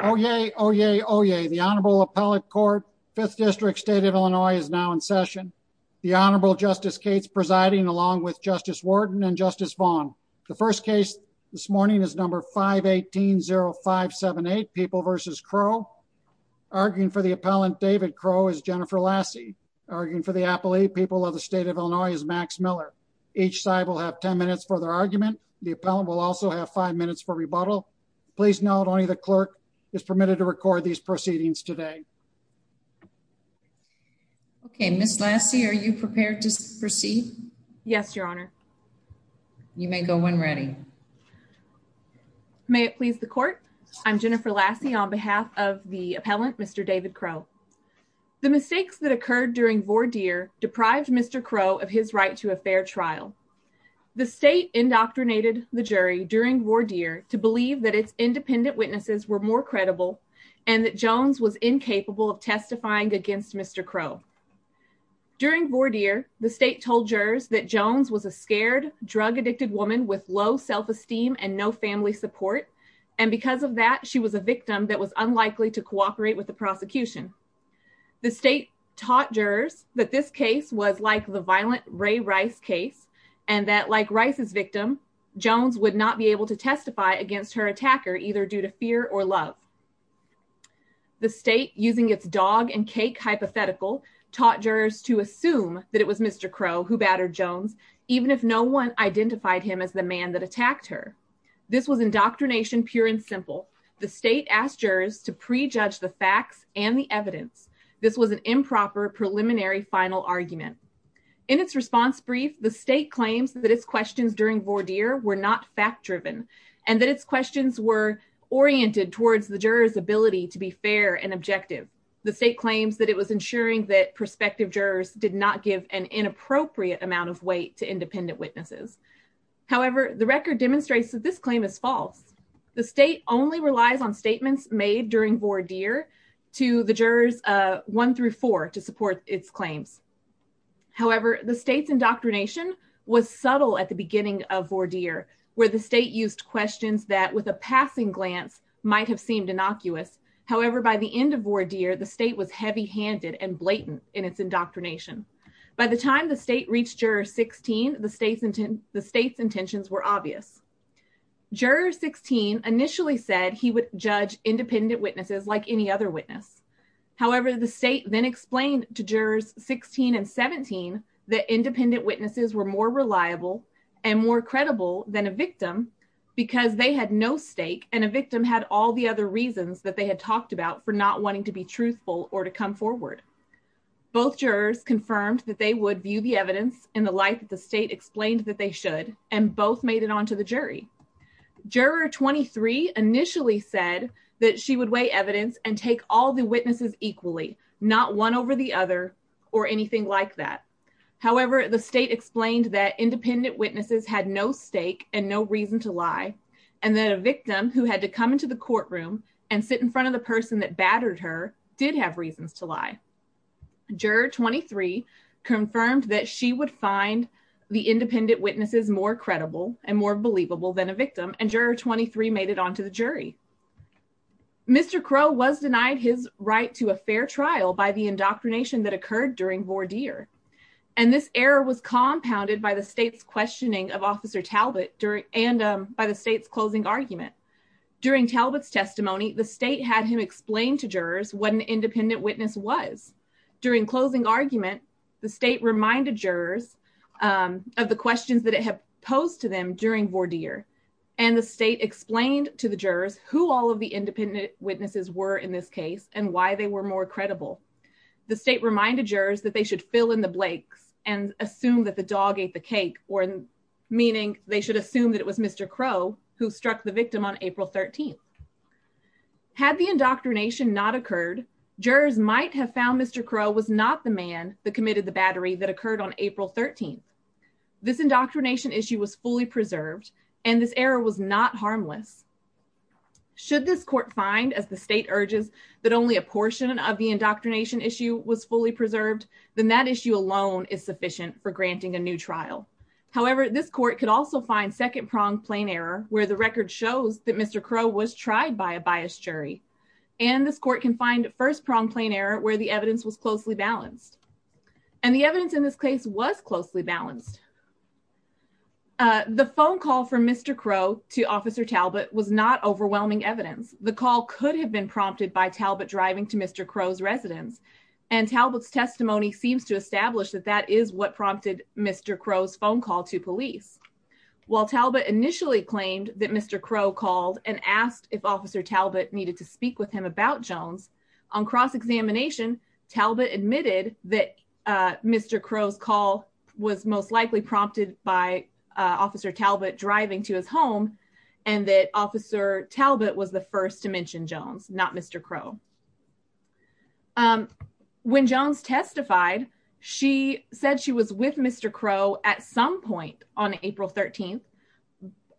Oh, yay. Oh, yay. Oh, yay. The Honorable Appellate Court, 5th District, State of Illinois is now in session. The Honorable Justice Cates presiding along with Justice Wharton and Justice Vaughn. The first case this morning is number 518-0578, People v. Crowe. Arguing for the appellant, David Crowe, is Jennifer Lassie. Arguing for the appellee, People of the State of Illinois, is Max Miller. Each side will have 10 minutes for their argument. The appellant will also have 5 minutes for rebuttal. Please note, only the clerk is permitted to record these proceedings today. Okay, Ms. Lassie, are you prepared to proceed? Yes, Your Honor. You may go when ready. May it please the Court, I'm Jennifer Lassie on behalf of the appellant, Mr. David Crowe. The mistakes that occurred during v. Deere deprived Mr. Crowe of his right to a fair trial. The State indoctrinated the jury during v. Deere to believe that its independent witnesses were more credible and that Jones was incapable of testifying against Mr. Crowe. During v. Deere, the State told jurors that Jones was a scared, drug-addicted woman with low self-esteem and no family support, and because of that, she was a victim that was unlikely to cooperate with the prosecution. The State taught jurors that this case was like the violent Ray Rice case, and that like Rice's victim, Jones would not be able to testify against her attacker either due to fear or love. The State, using its dog-and-cake hypothetical, taught jurors to assume that it was Mr. Crowe who battered Jones, even if no one identified him as the man that attacked her. This was indoctrination pure and simple. The State asked jurors to prejudge the facts and the evidence. This was an improper preliminary final argument. In its response brief, the State claims that its questions during v. Deere were not fact-driven and that its questions were oriented towards the jurors' ability to be fair and objective. The State claims that it was ensuring that prospective jurors did not give an inappropriate amount of weight to independent witnesses. However, the record demonstrates that this claim is false. The State only relies on statements made during v. Deere to the jurors 1 through 4 to support its claims. However, the State's indoctrination was subtle at the beginning of v. Deere, where the State used questions that, with a passing glance, might have seemed innocuous. However, by the end of v. Deere, the State was heavy-handed and blatant in its indoctrination. By the time the State reached Juror 16, the State's intentions were obvious. Juror 16 initially said he would judge independent witnesses like any other witness. However, the State then explained to Jurors 16 and 17 that independent witnesses were more reliable and more credible than a victim because they had no stake and a victim had all the other reasons that they had talked about for not wanting to be truthful or to come forward. Both jurors confirmed that they would view the evidence in the light that the State explained that they should, and both made it onto the jury. Juror 23 initially said that she would weigh evidence and take all witnesses equally, not one over the other or anything like that. However, the State explained that independent witnesses had no stake and no reason to lie and that a victim who had to come into the courtroom and sit in front of the person that battered her did have reasons to lie. Juror 23 confirmed that she would find the independent witnesses more credible and more believable than a victim, and Juror 23 made it onto the jury. Mr. Crow was denied his right to a fair trial by the indoctrination that occurred during voir dire, and this error was compounded by the State's questioning of Officer Talbot and by the State's closing argument. During Talbot's testimony, the State had him explain to jurors what an independent witness was. During closing argument, the State reminded jurors of the questions that it had posed to them during voir dire, and the State explained to the jurors who all of the independent witnesses were in this case and why they were more credible. The State reminded jurors that they should fill in the blanks and assume that the dog ate the cake, meaning they should assume that it was Mr. Crow who struck the victim on April 13th. Had the indoctrination not occurred, jurors might have found that Mr. Crow was not the man that committed the battery that occurred on April 13th. This indoctrination issue was fully preserved, and this error was not harmless. Should this court find, as the State urges, that only a portion of the indoctrination issue was fully preserved, then that issue alone is sufficient for granting a new trial. However, this court could also find second-pronged plain error where the record shows that Mr. Crow was tried by a biased jury, and this court can find first-pronged plain error where the evidence was closely balanced, and the evidence in this case was closely balanced. The phone call from Mr. Crow to Officer Talbot was not overwhelming evidence. The call could have been prompted by Talbot driving to Mr. Crow's residence, and Talbot's testimony seems to establish that that is what prompted Mr. Crow's phone call to police. While Talbot initially claimed that Mr. Crow called and asked if Officer Talbot needed to speak with him about Jones, on cross-examination, Talbot admitted that Mr. Crow's call was most likely prompted by Officer Talbot driving to his home, and that Officer Talbot was the first to mention Jones, not Mr. Crow. When Jones testified, she said she was with Mr. Crow at some point on April 13th,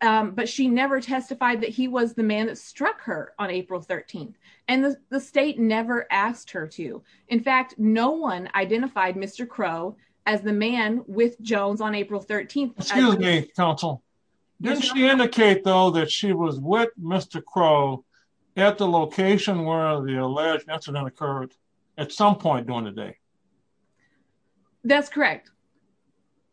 but she never testified that he was the man that struck her on April 13th, and the state never asked her to. In fact, no one identified Mr. Crow as the man with Jones on April 13th. Excuse me, counsel. Didn't she indicate, though, that she was with Mr. Crow at the location where the alleged incident occurred at some point during the day? That's correct.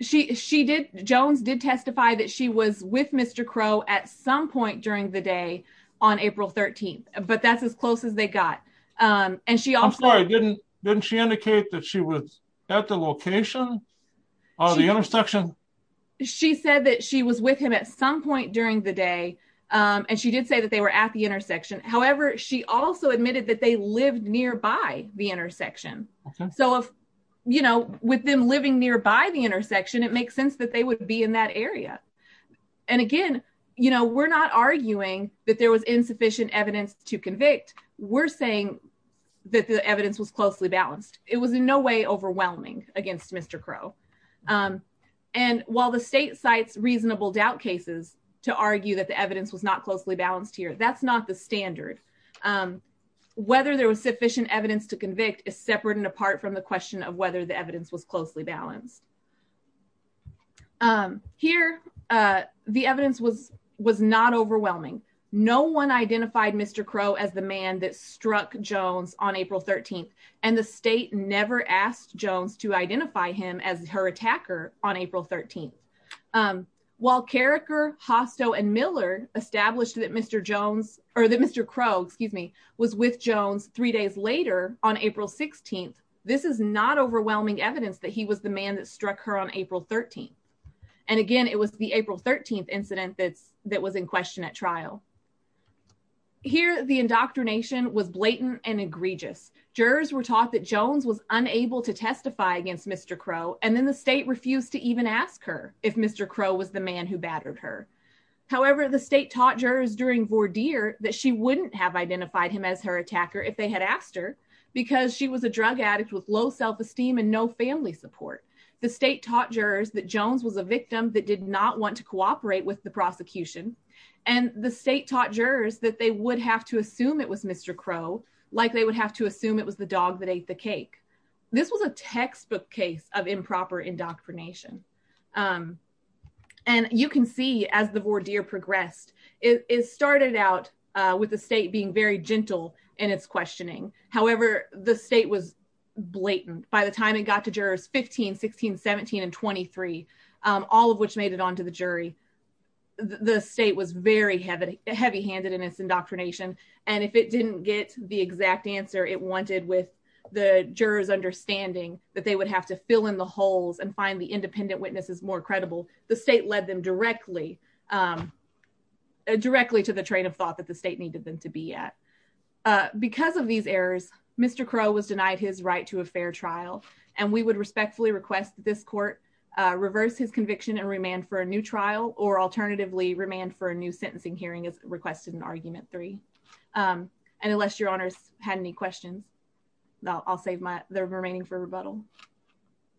Jones did testify that she was with Mr. Crow at some point during the day on April 13th, but that's as close as they got. I'm sorry, didn't she indicate that she was at the location or the intersection? She said that she was with him at some point during the day, and she did say that they were at the intersection. However, she also admitted that they with them living nearby the intersection, it makes sense that they would be in that area, and again, we're not arguing that there was insufficient evidence to convict. We're saying that the evidence was closely balanced. It was in no way overwhelming against Mr. Crow, and while the state cites reasonable doubt cases to argue that the evidence was not closely balanced here, that's not the standard. Whether there was sufficient evidence to convict is apart from the question of whether the evidence was closely balanced. Here, the evidence was not overwhelming. No one identified Mr. Crow as the man that struck Jones on April 13th, and the state never asked Jones to identify him as her attacker on April 13th. While Carriker, Hostow, and Miller established that Mr. Crow was with Jones three weeks before April 13th, this is not overwhelming evidence that he was the man that struck her on April 13th, and again, it was the April 13th incident that was in question at trial. Here, the indoctrination was blatant and egregious. Jurors were taught that Jones was unable to testify against Mr. Crow, and then the state refused to even ask her if Mr. Crow was the man who battered her. However, the state taught jurors during voir dire that she wouldn't have self-esteem and no family support. The state taught jurors that Jones was a victim that did not want to cooperate with the prosecution, and the state taught jurors that they would have to assume it was Mr. Crow, like they would have to assume it was the dog that ate the cake. This was a textbook case of improper indoctrination, and you can see as the voir dire progressed, it started out with the state being very gentle in its questioning. However, the state was blatant. By the time it got to jurors 15, 16, 17, and 23, all of which made it onto the jury, the state was very heavy-handed in its indoctrination, and if it didn't get the exact answer it wanted with the jurors' understanding that they would have to fill in the holes and find the independent witnesses more credible, the state led them directly to the train of thought that the state needed them to be at. Because of these errors, Mr. Crow was denied his right to a fair trial, and we would respectfully request that this court reverse his conviction and remand for a new trial, or alternatively, remand for a new sentencing hearing as requested in Argument 3. And unless your honors had any questions, I'll save the remaining for rebuttal.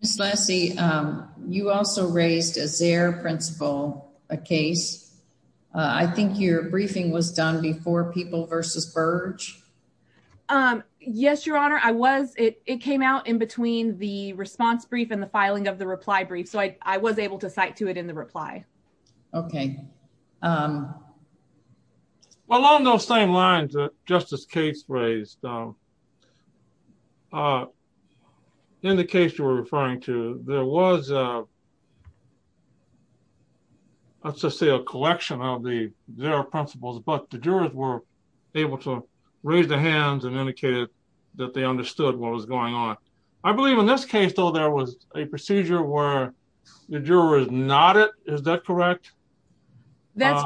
Ms. Lassie, you also raised as their principal a case. I think your briefing was done before People v. Burge. Yes, your honor, I was. It came out in between the response brief and the filing of the reply brief, so I was able to cite to it in the reply. Okay. Along those same lines that Justice Cates raised, in the case you were let's just say a collection of the their principles, but the jurors were able to raise their hands and indicated that they understood what was going on. I believe in this case, though, there was a procedure where the juror is not it. Is that correct? That's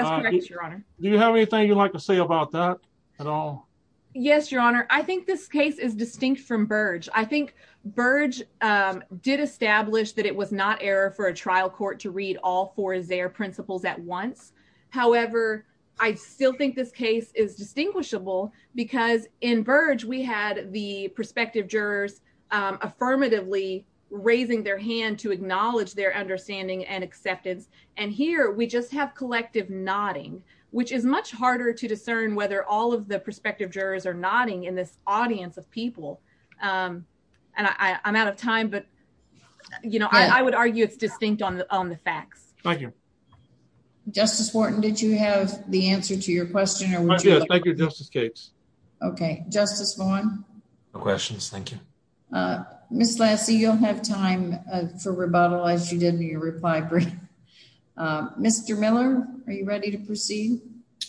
correct, your honor. Do you have anything you'd like to say about that at all? Yes, your honor. I think this case is distinct from Burge. I think Burge did establish that it was not error for a trial court to read all four of their principles at once. However, I still think this case is distinguishable because in Burge we had the prospective jurors affirmatively raising their hand to acknowledge their understanding and acceptance, and here we just have collective nodding, which is much harder to discern whether all of the prospective jurors are nodding in this time. I would argue it's distinct on the facts. Thank you. Justice Wharton, did you have the answer to your question? Thank you, Justice Cates. Okay. Justice Vaughn? No questions, thank you. Ms. Lassie, you'll have time for rebuttal as you did in your reply brief. Mr. Miller, are you ready to proceed?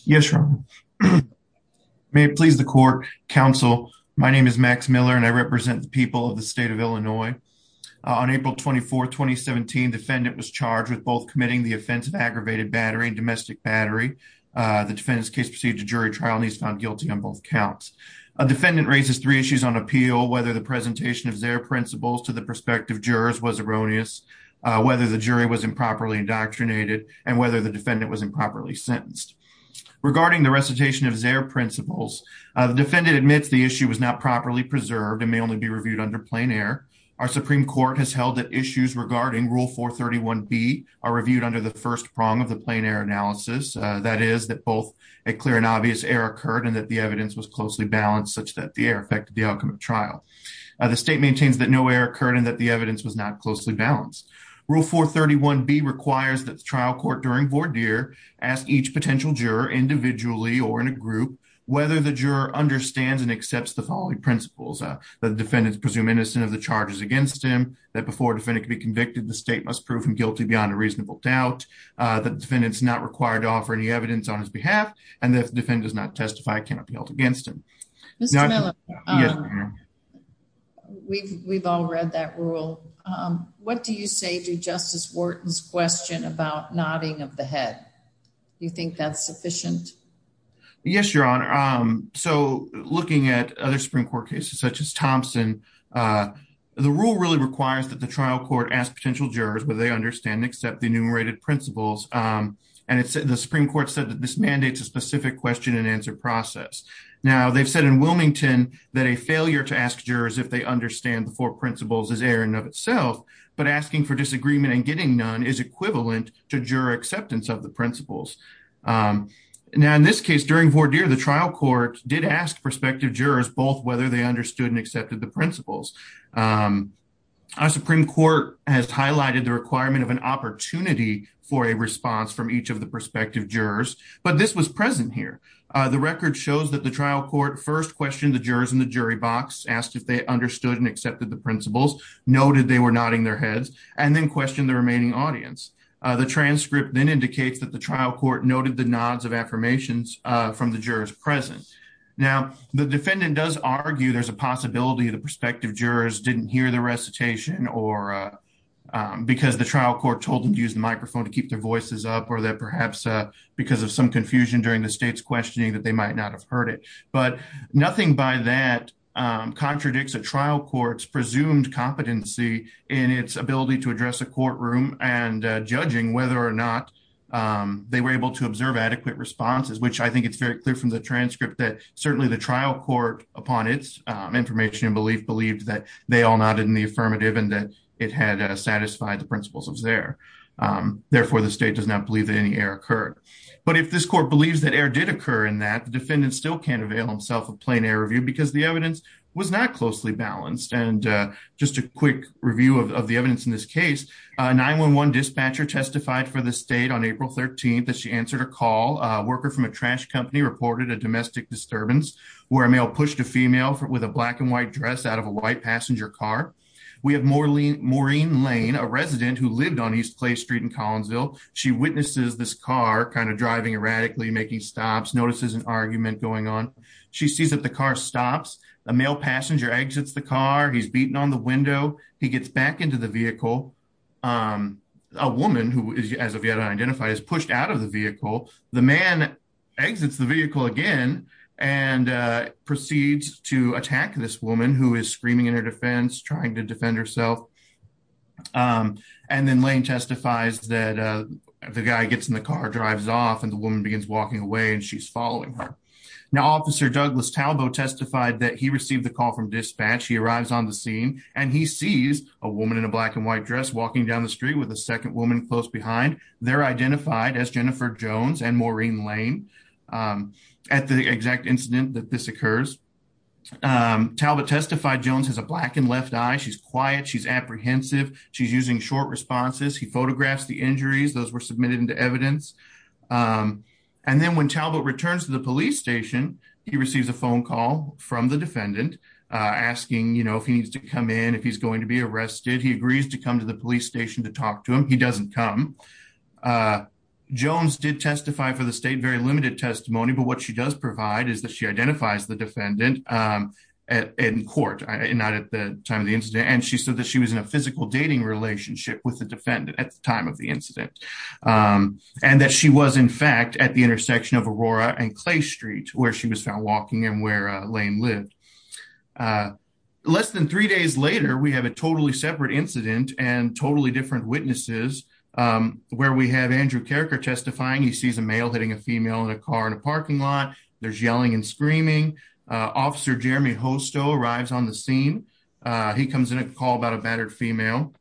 Yes, your honor. May it please the court, counsel, my name is Max Miller and I represent the people of the state of Illinois. On April 24, 2017, defendant was charged with both committing the offense of aggravated battery and domestic battery. The defendant's case proceeded to jury trial and he's found guilty on both counts. A defendant raises three issues on appeal, whether the presentation of their principles to the prospective jurors was erroneous, whether the jury was improperly indoctrinated, and whether the defendant was improperly sentenced. Regarding the recitation of their principles, the defendant admits the issue was not properly preserved and may only be reviewed under plain air. Our Supreme Court has held that issues regarding Rule 431B are reviewed under the first prong of the plain air analysis, that is, that both a clear and obvious error occurred and that the evidence was closely balanced such that the error affected the outcome of trial. The state maintains that no error occurred and that the evidence was not closely balanced. Rule 431B requires that the trial court during voir dire ask each potential juror individually or in a group whether the juror understands and accepts the following principles, that the defendant is presumed innocent of the charges against him, that before a defendant can be convicted, the state must prove him guilty beyond a reasonable doubt, that the defendant is not required to offer any evidence on his behalf, and that if the defendant does not testify, cannot be held against him. Mr. Miller, we've all read that rule. What do you say to Justice Wharton's question about nodding of the head? Do you think that's sufficient? Yes, Your Honor. So, looking at other Supreme Court cases such as Thompson, the rule really requires that the trial court ask potential jurors whether they understand and accept the enumerated principles, and the Supreme Court said that this mandates a specific question and answer process. Now, they've said in Wilmington that a failure to ask jurors if they understand the four principles is error in and of itself, but asking for disagreement and getting none is equivalent to juror acceptance of the principles. Now, in this case, during voir dire, the trial court did ask prospective jurors both whether they understood and accepted the principles. Our Supreme Court has highlighted the requirement of an opportunity for a response from each of the prospective jurors, but this was present here. The record shows that the trial court first questioned the jurors in the jury box, asked if they understood and accepted the principles, noted they were nodding their heads, and then questioned the remaining audience. The transcript then indicates that the trial court noted the nods of affirmations from the jurors present. Now, the defendant does argue there's a possibility the prospective jurors didn't hear the recitation because the trial court told them to use the microphone to keep their voices up or that perhaps because of some confusion during the state's questioning that they might not have heard it. But nothing by that contradicts a trial court's presumed competency in its ability to address a courtroom and judging whether or not they were able to observe adequate responses, which I think it's very clear from the transcript that certainly the trial court, upon its information and belief, believed that they all nodded in the affirmative and that it had satisfied the principles of XER. Therefore, the state does not believe that any error occurred. But if this believes that error did occur in that, the defendant still can't avail himself of plain error review because the evidence was not closely balanced. And just a quick review of the evidence in this case, a 911 dispatcher testified for the state on April 13th that she answered a call. A worker from a trash company reported a domestic disturbance where a male pushed a female with a black and white dress out of a white passenger car. We have Maureen Lane, a resident who notices an argument going on. She sees that the car stops. A male passenger exits the car. He's beaten on the window. He gets back into the vehicle. A woman who, as of yet unidentified, is pushed out of the vehicle. The man exits the vehicle again and proceeds to attack this woman who is screaming in her defense, trying to defend herself. And then Lane testifies that the guy gets in the car, drives off, and the woman begins walking away and she's following her. Now, Officer Douglas Talbot testified that he received a call from dispatch. He arrives on the scene and he sees a woman in a black and white dress walking down the street with a second woman close behind. They're identified as Jennifer Jones and Maureen Lane at the exact incident that this occurs. Talbot testified Jones has a blackened left eye. She's quiet. She's apprehensive. She's using short responses. He photographs the injuries. Those were submitted into evidence. And then when Talbot returns to the police station, he receives a phone call from the defendant asking if he needs to come in, if he's going to be arrested. He agrees to come to the police station to talk to him. He doesn't come. Jones did testify for the state, very limited testimony, but what she does provide is that she identifies the defendant in court, not at the time of the incident, and she said that she was in a physical dating relationship with the defendant at the time of the incident, and that she was in fact at the intersection of Aurora and Clay Street where she was found walking and where Lane lived. Less than three days later, we have a totally separate incident and totally different witnesses where we have Andrew Carriker testifying. He sees a male hitting a female in a car in a parking lot. There's yelling and screaming. Officer Jeremy arrives on the scene. He comes in a call about a battered female.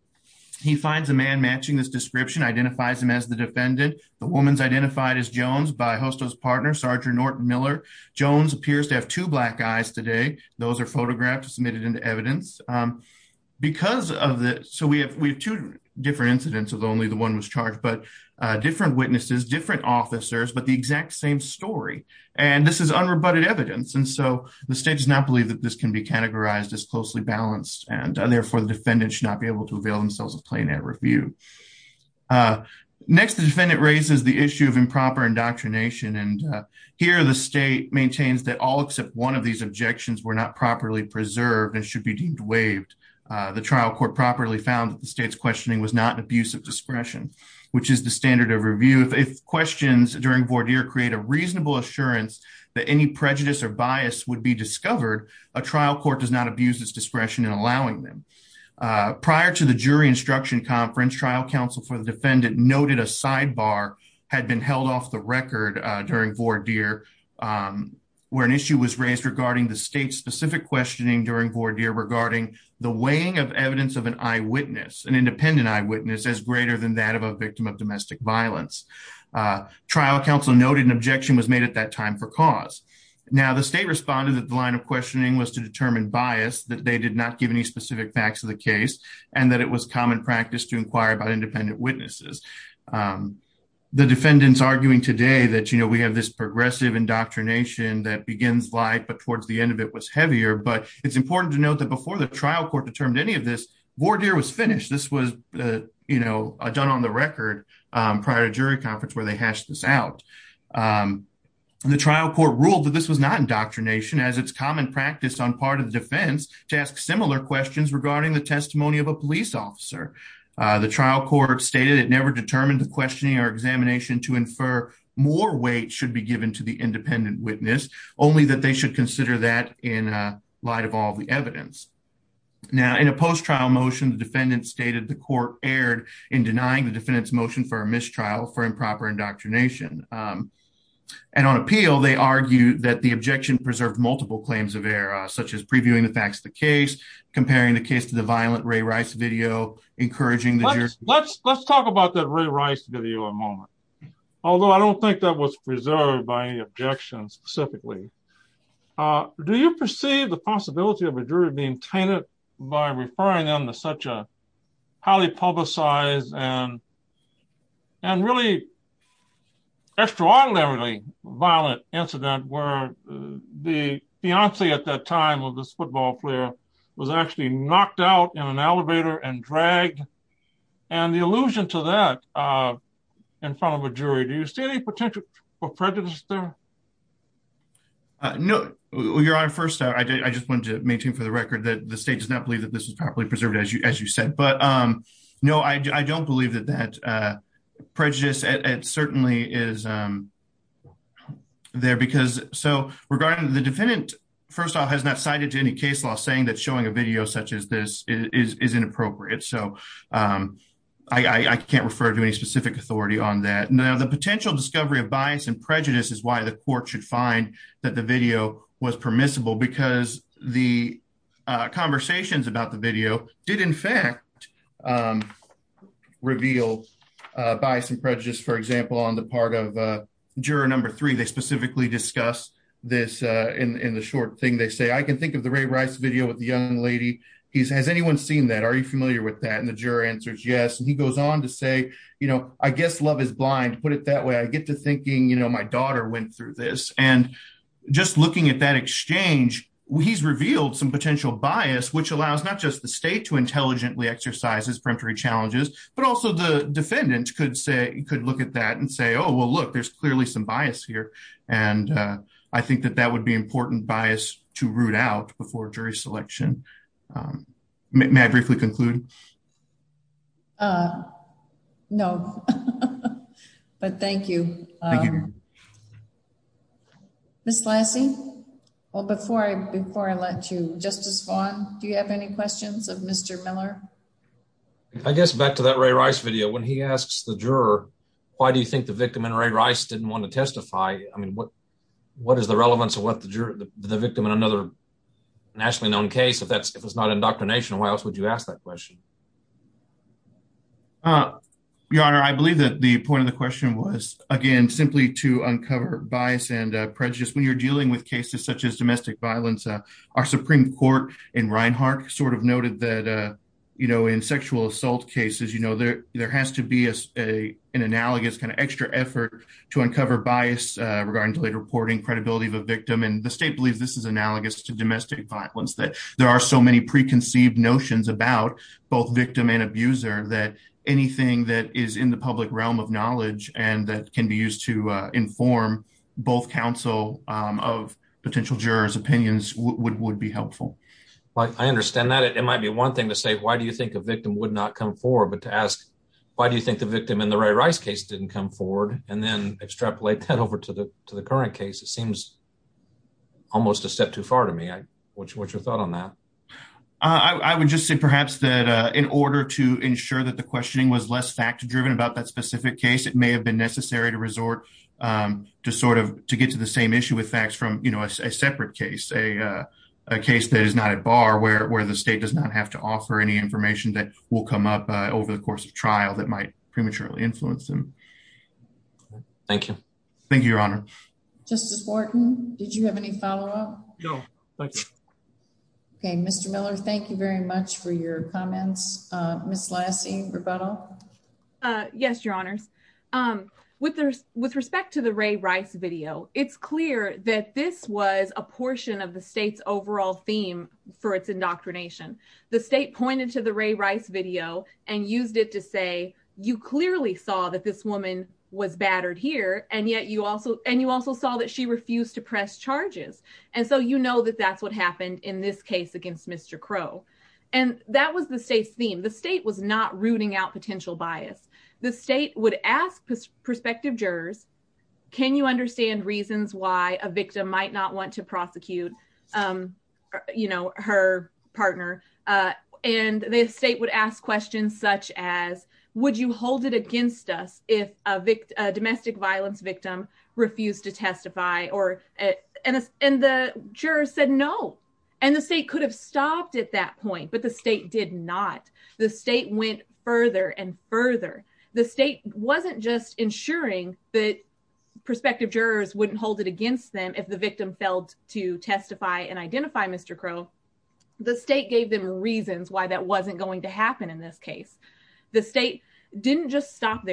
He finds a man matching this description, identifies him as the defendant. The woman's identified as Jones by Hosto's partner, Sergeant Norton Miller. Jones appears to have two black eyes today. Those are photographed, submitted into evidence. So we have two different incidents, although only the one was charged, but different witnesses, different officers, but the exact same story. And this is unrebutted evidence, and so the state does not believe that this can be categorized as closely balanced, and therefore the defendant should not be able to avail themselves of plain air review. Next, the defendant raises the issue of improper indoctrination, and here the state maintains that all except one of these objections were not properly preserved and should be deemed waived. The trial court properly found that the state's questioning was not an abuse of discretion, which is the standard of review. If questions during voir dire create a reasonable assurance that any prejudice or bias would be discovered, a trial court does not abuse its discretion in allowing them. Prior to the jury instruction conference, trial counsel for the defendant noted a sidebar had been held off the record during voir dire, where an issue was raised regarding the state-specific questioning during voir dire regarding the weighing of evidence of an eyewitness, an independent eyewitness, as greater than that of a victim of domestic violence. Trial counsel noted an objection was made at that time for cause. Now, the state responded that the line of questioning was to determine bias, that they did not give any specific facts of the case, and that it was common practice to inquire about independent witnesses. The defendants arguing today that, you know, we have this progressive indoctrination that begins light but towards the end of it was heavier, but it's important to note that before the trial court determined any of this, voir dire was finished. This was, you know, done on the conference where they hashed this out. The trial court ruled that this was not indoctrination as it's common practice on part of the defense to ask similar questions regarding the testimony of a police officer. The trial court stated it never determined the questioning or examination to infer more weight should be given to the independent witness, only that they should consider that in light of all the evidence. Now, in a post-trial motion, the defendant stated the indoctrination. And on appeal, they argued that the objection preserved multiple claims of error, such as previewing the facts of the case, comparing the case to the violent Ray Rice video, encouraging the jury... Let's talk about that Ray Rice video a moment, although I don't think that was preserved by any objection specifically. Do you perceive the possibility of a jury being extraordinarily violent incident where the fiancee at that time of this football player was actually knocked out in an elevator and dragged? And the allusion to that in front of a jury, do you see any potential for prejudice there? No, your honor. First, I just wanted to maintain for the record that the state does not believe that this is properly preserved as you said, but no, I don't believe that that certainly is there because... So regarding the defendant, first off, has not cited any case law saying that showing a video such as this is inappropriate. So I can't refer to any specific authority on that. Now, the potential discovery of bias and prejudice is why the court should find that the video was permissible because the conversations about the video did in fact reveal bias and prejudice. For example, on the part of juror number three, they specifically discuss this in the short thing they say, I can think of the Ray Rice video with the young lady. Has anyone seen that? Are you familiar with that? And the juror answers yes. And he goes on to say, I guess love is blind, put it that way. I get to thinking my daughter went through this. And just looking at that exchange, he's revealed some potential bias, which allows not just the challenges, but also the defendant could look at that and say, oh, well, look, there's clearly some bias here. And I think that that would be important bias to root out before jury selection. May I briefly conclude? No, but thank you. Ms. Lassie? Well, before I let you, Justice Vaughn, do you have any questions of Mr. Miller? I guess back to that Ray Rice video, when he asks the juror, why do you think the victim in Ray Rice didn't want to testify? I mean, what is the relevance of what the victim in another nationally known case? If it's not indoctrination, why else would you ask that question? Your Honor, I believe that the point of the question was, again, simply to uncover bias and prejudice when you're dealing with cases such as domestic violence. Our Supreme Court in Reinhart sort of noted that in sexual assault cases, there has to be an analogous kind of extra effort to uncover bias regarding delayed reporting, credibility of a victim. And the state believes this is analogous to domestic violence, that there are so many preconceived notions about both victim and abuser that anything that is in the public realm of knowledge and that can be used to inform both counsel of potential jurors' opinions would be helpful. I understand that. It might be one thing to say, why do you think a victim would not come forward? But to ask, why do you think the victim in the Ray Rice case didn't come forward? And then extrapolate that over to the current case, it seems almost a step too far to me. What's your thought on that? I would just say perhaps that in order to ensure that the questioning was less fact-driven about that specific case, it may have been necessary to resort to sort of to get to the same issue with facts from, you know, a separate case, a case that is not at bar where the state does not have to offer any information that will come up over the course of trial that might prematurely influence them. Thank you. Thank you, Your Honor. Justice Wharton, did you have any follow-up? No, thank you. Okay, Mr. Miller, thank you very much for your comments. Ms. Lassie, rebuttal? Yes, Your Honors. With respect to the Ray Rice video, it's clear that this was a portion of the state's overall theme for its indoctrination. The state pointed to the Ray Rice video and used it to say, you clearly saw that this woman was battered here, and yet you also saw that she refused to press charges. And so you know that that's what happened in this case against Mr. Crow. And that was the state's theme. The state was not rooting out potential bias. The state would ask prospective jurors, can you understand reasons why a victim might not want to prosecute, you know, her partner? And the state would ask questions such as, would you hold it against us if a domestic violence victim refused to testify? And the jurors said no. And the state could have stopped at that point, but the state did not. The state went further and further. The state wasn't just ensuring that prospective jurors wouldn't hold it against them if the victim failed to testify and identify Mr. Crow. The state gave them reasons why that wasn't going to happen in this case. The state didn't just that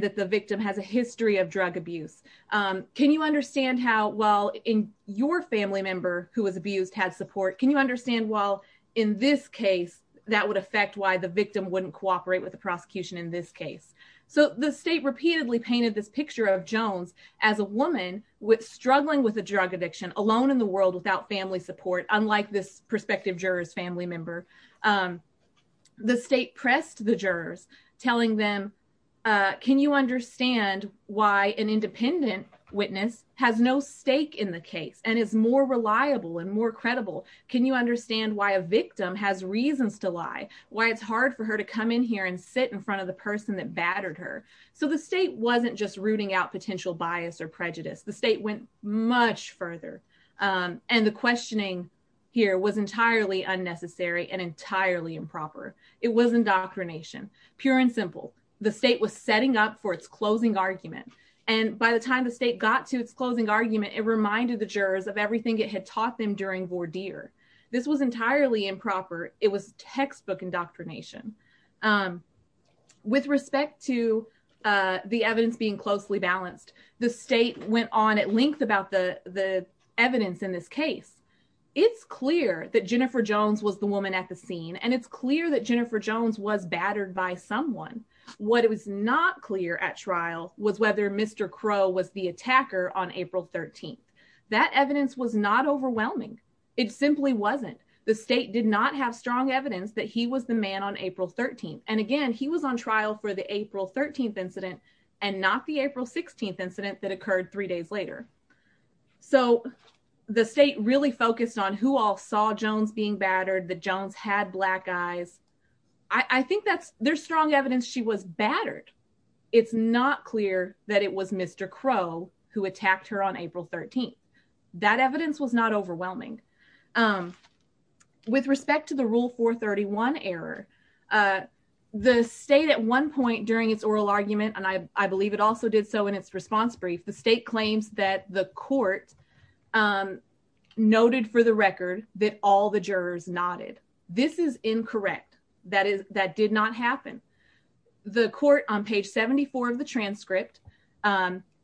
the victim has a history of drug abuse. Can you understand how, well, in your family member who was abused had support, can you understand, well, in this case, that would affect why the victim wouldn't cooperate with the prosecution in this case. So the state repeatedly painted this picture of Jones as a woman struggling with a drug addiction alone in the world without family support, unlike this prospective juror's family member. The state pressed the jurors, telling them, can you understand why an independent witness has no stake in the case and is more reliable and more credible? Can you understand why a victim has reasons to lie? Why it's hard for her to come in here and sit in front of the person that battered her? So the state wasn't just rooting out potential bias or prejudice. The state went much further. And the questioning here was entirely unnecessary and entirely improper. It was indoctrination, pure and simple. The state was setting up for its closing argument. And by the time the state got to its closing argument, it reminded the jurors of everything it had taught them during voir dire. This was entirely improper. It was textbook indoctrination. With respect to the evidence being closely balanced, the state went on at length about the evidence in this case. It's clear that Jennifer Jones was the woman at the scene. And it's clear that Jennifer Jones was battered by someone. What was not clear at trial was whether Mr. Crow was the attacker on April 13. That evidence was not overwhelming. It simply wasn't. The state did not have strong evidence that he was the man on April 13. And again, he was on trial for the April 13 incident and not the April 16 incident that occurred three days later. So the state really focused on who all saw Jones being battered. That Jones had black eyes. I think there's strong evidence she was battered. It's not clear that it was Mr. Crow who attacked her on April 13. That evidence was not overwhelming. With respect to the Rule 431 error, the state at one point during its oral argument, and I believe it also did so in its response brief, the state claims that the court noted for the record that all the jurors nodded. This is incorrect. That did not happen. The court on page 74 of the transcript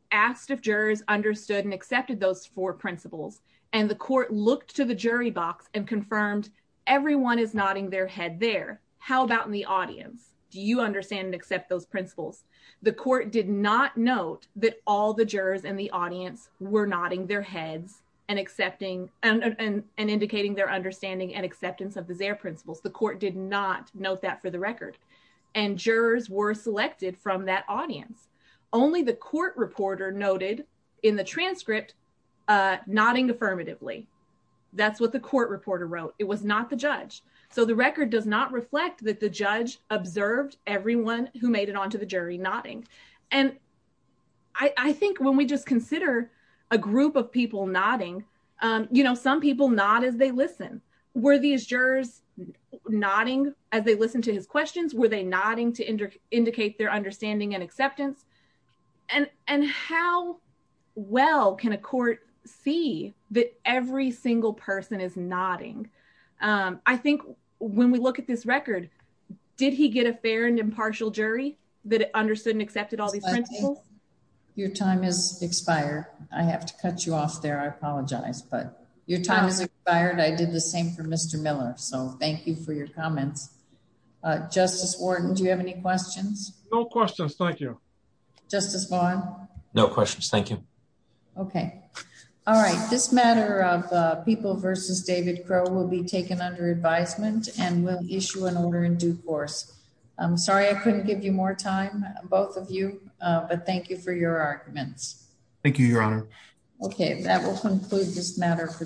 asked if jurors understood and accepted those four principles. And the court looked to the jury box and confirmed everyone is nodding their head there. How about in the audience? Do you understand and accept those principles? The court did not note that all the jurors in the audience were nodding their heads and accepting and indicating their understanding and acceptance of the Zaire principles. The court did not note that for the record. And jurors were nodding affirmatively. That's what the court reporter wrote. It was not the judge. So the record does not reflect that the judge observed everyone who made it onto the jury nodding. And I think when we just consider a group of people nodding, you know, some people nod as they listen. Were these jurors nodding as they listened to his questions? Were they nodding to see that every single person is nodding? I think when we look at this record, did he get a fair and impartial jury that understood and accepted all these principles? Your time is expired. I have to cut you off there. I apologize. But your time is expired. I did the same for Mr. Miller. So thank you for your comments. Justice Wharton, do you have any questions? No questions. Thank you. Justice Vaughn? No questions. Thank you. Okay. All right. This matter of people versus David Crowe will be taken under advisement and will issue an order in due course. I'm sorry I couldn't give you more time, both of you, but thank you for your arguments. Thank you, Your Honor. Okay, that will conclude this matter for today.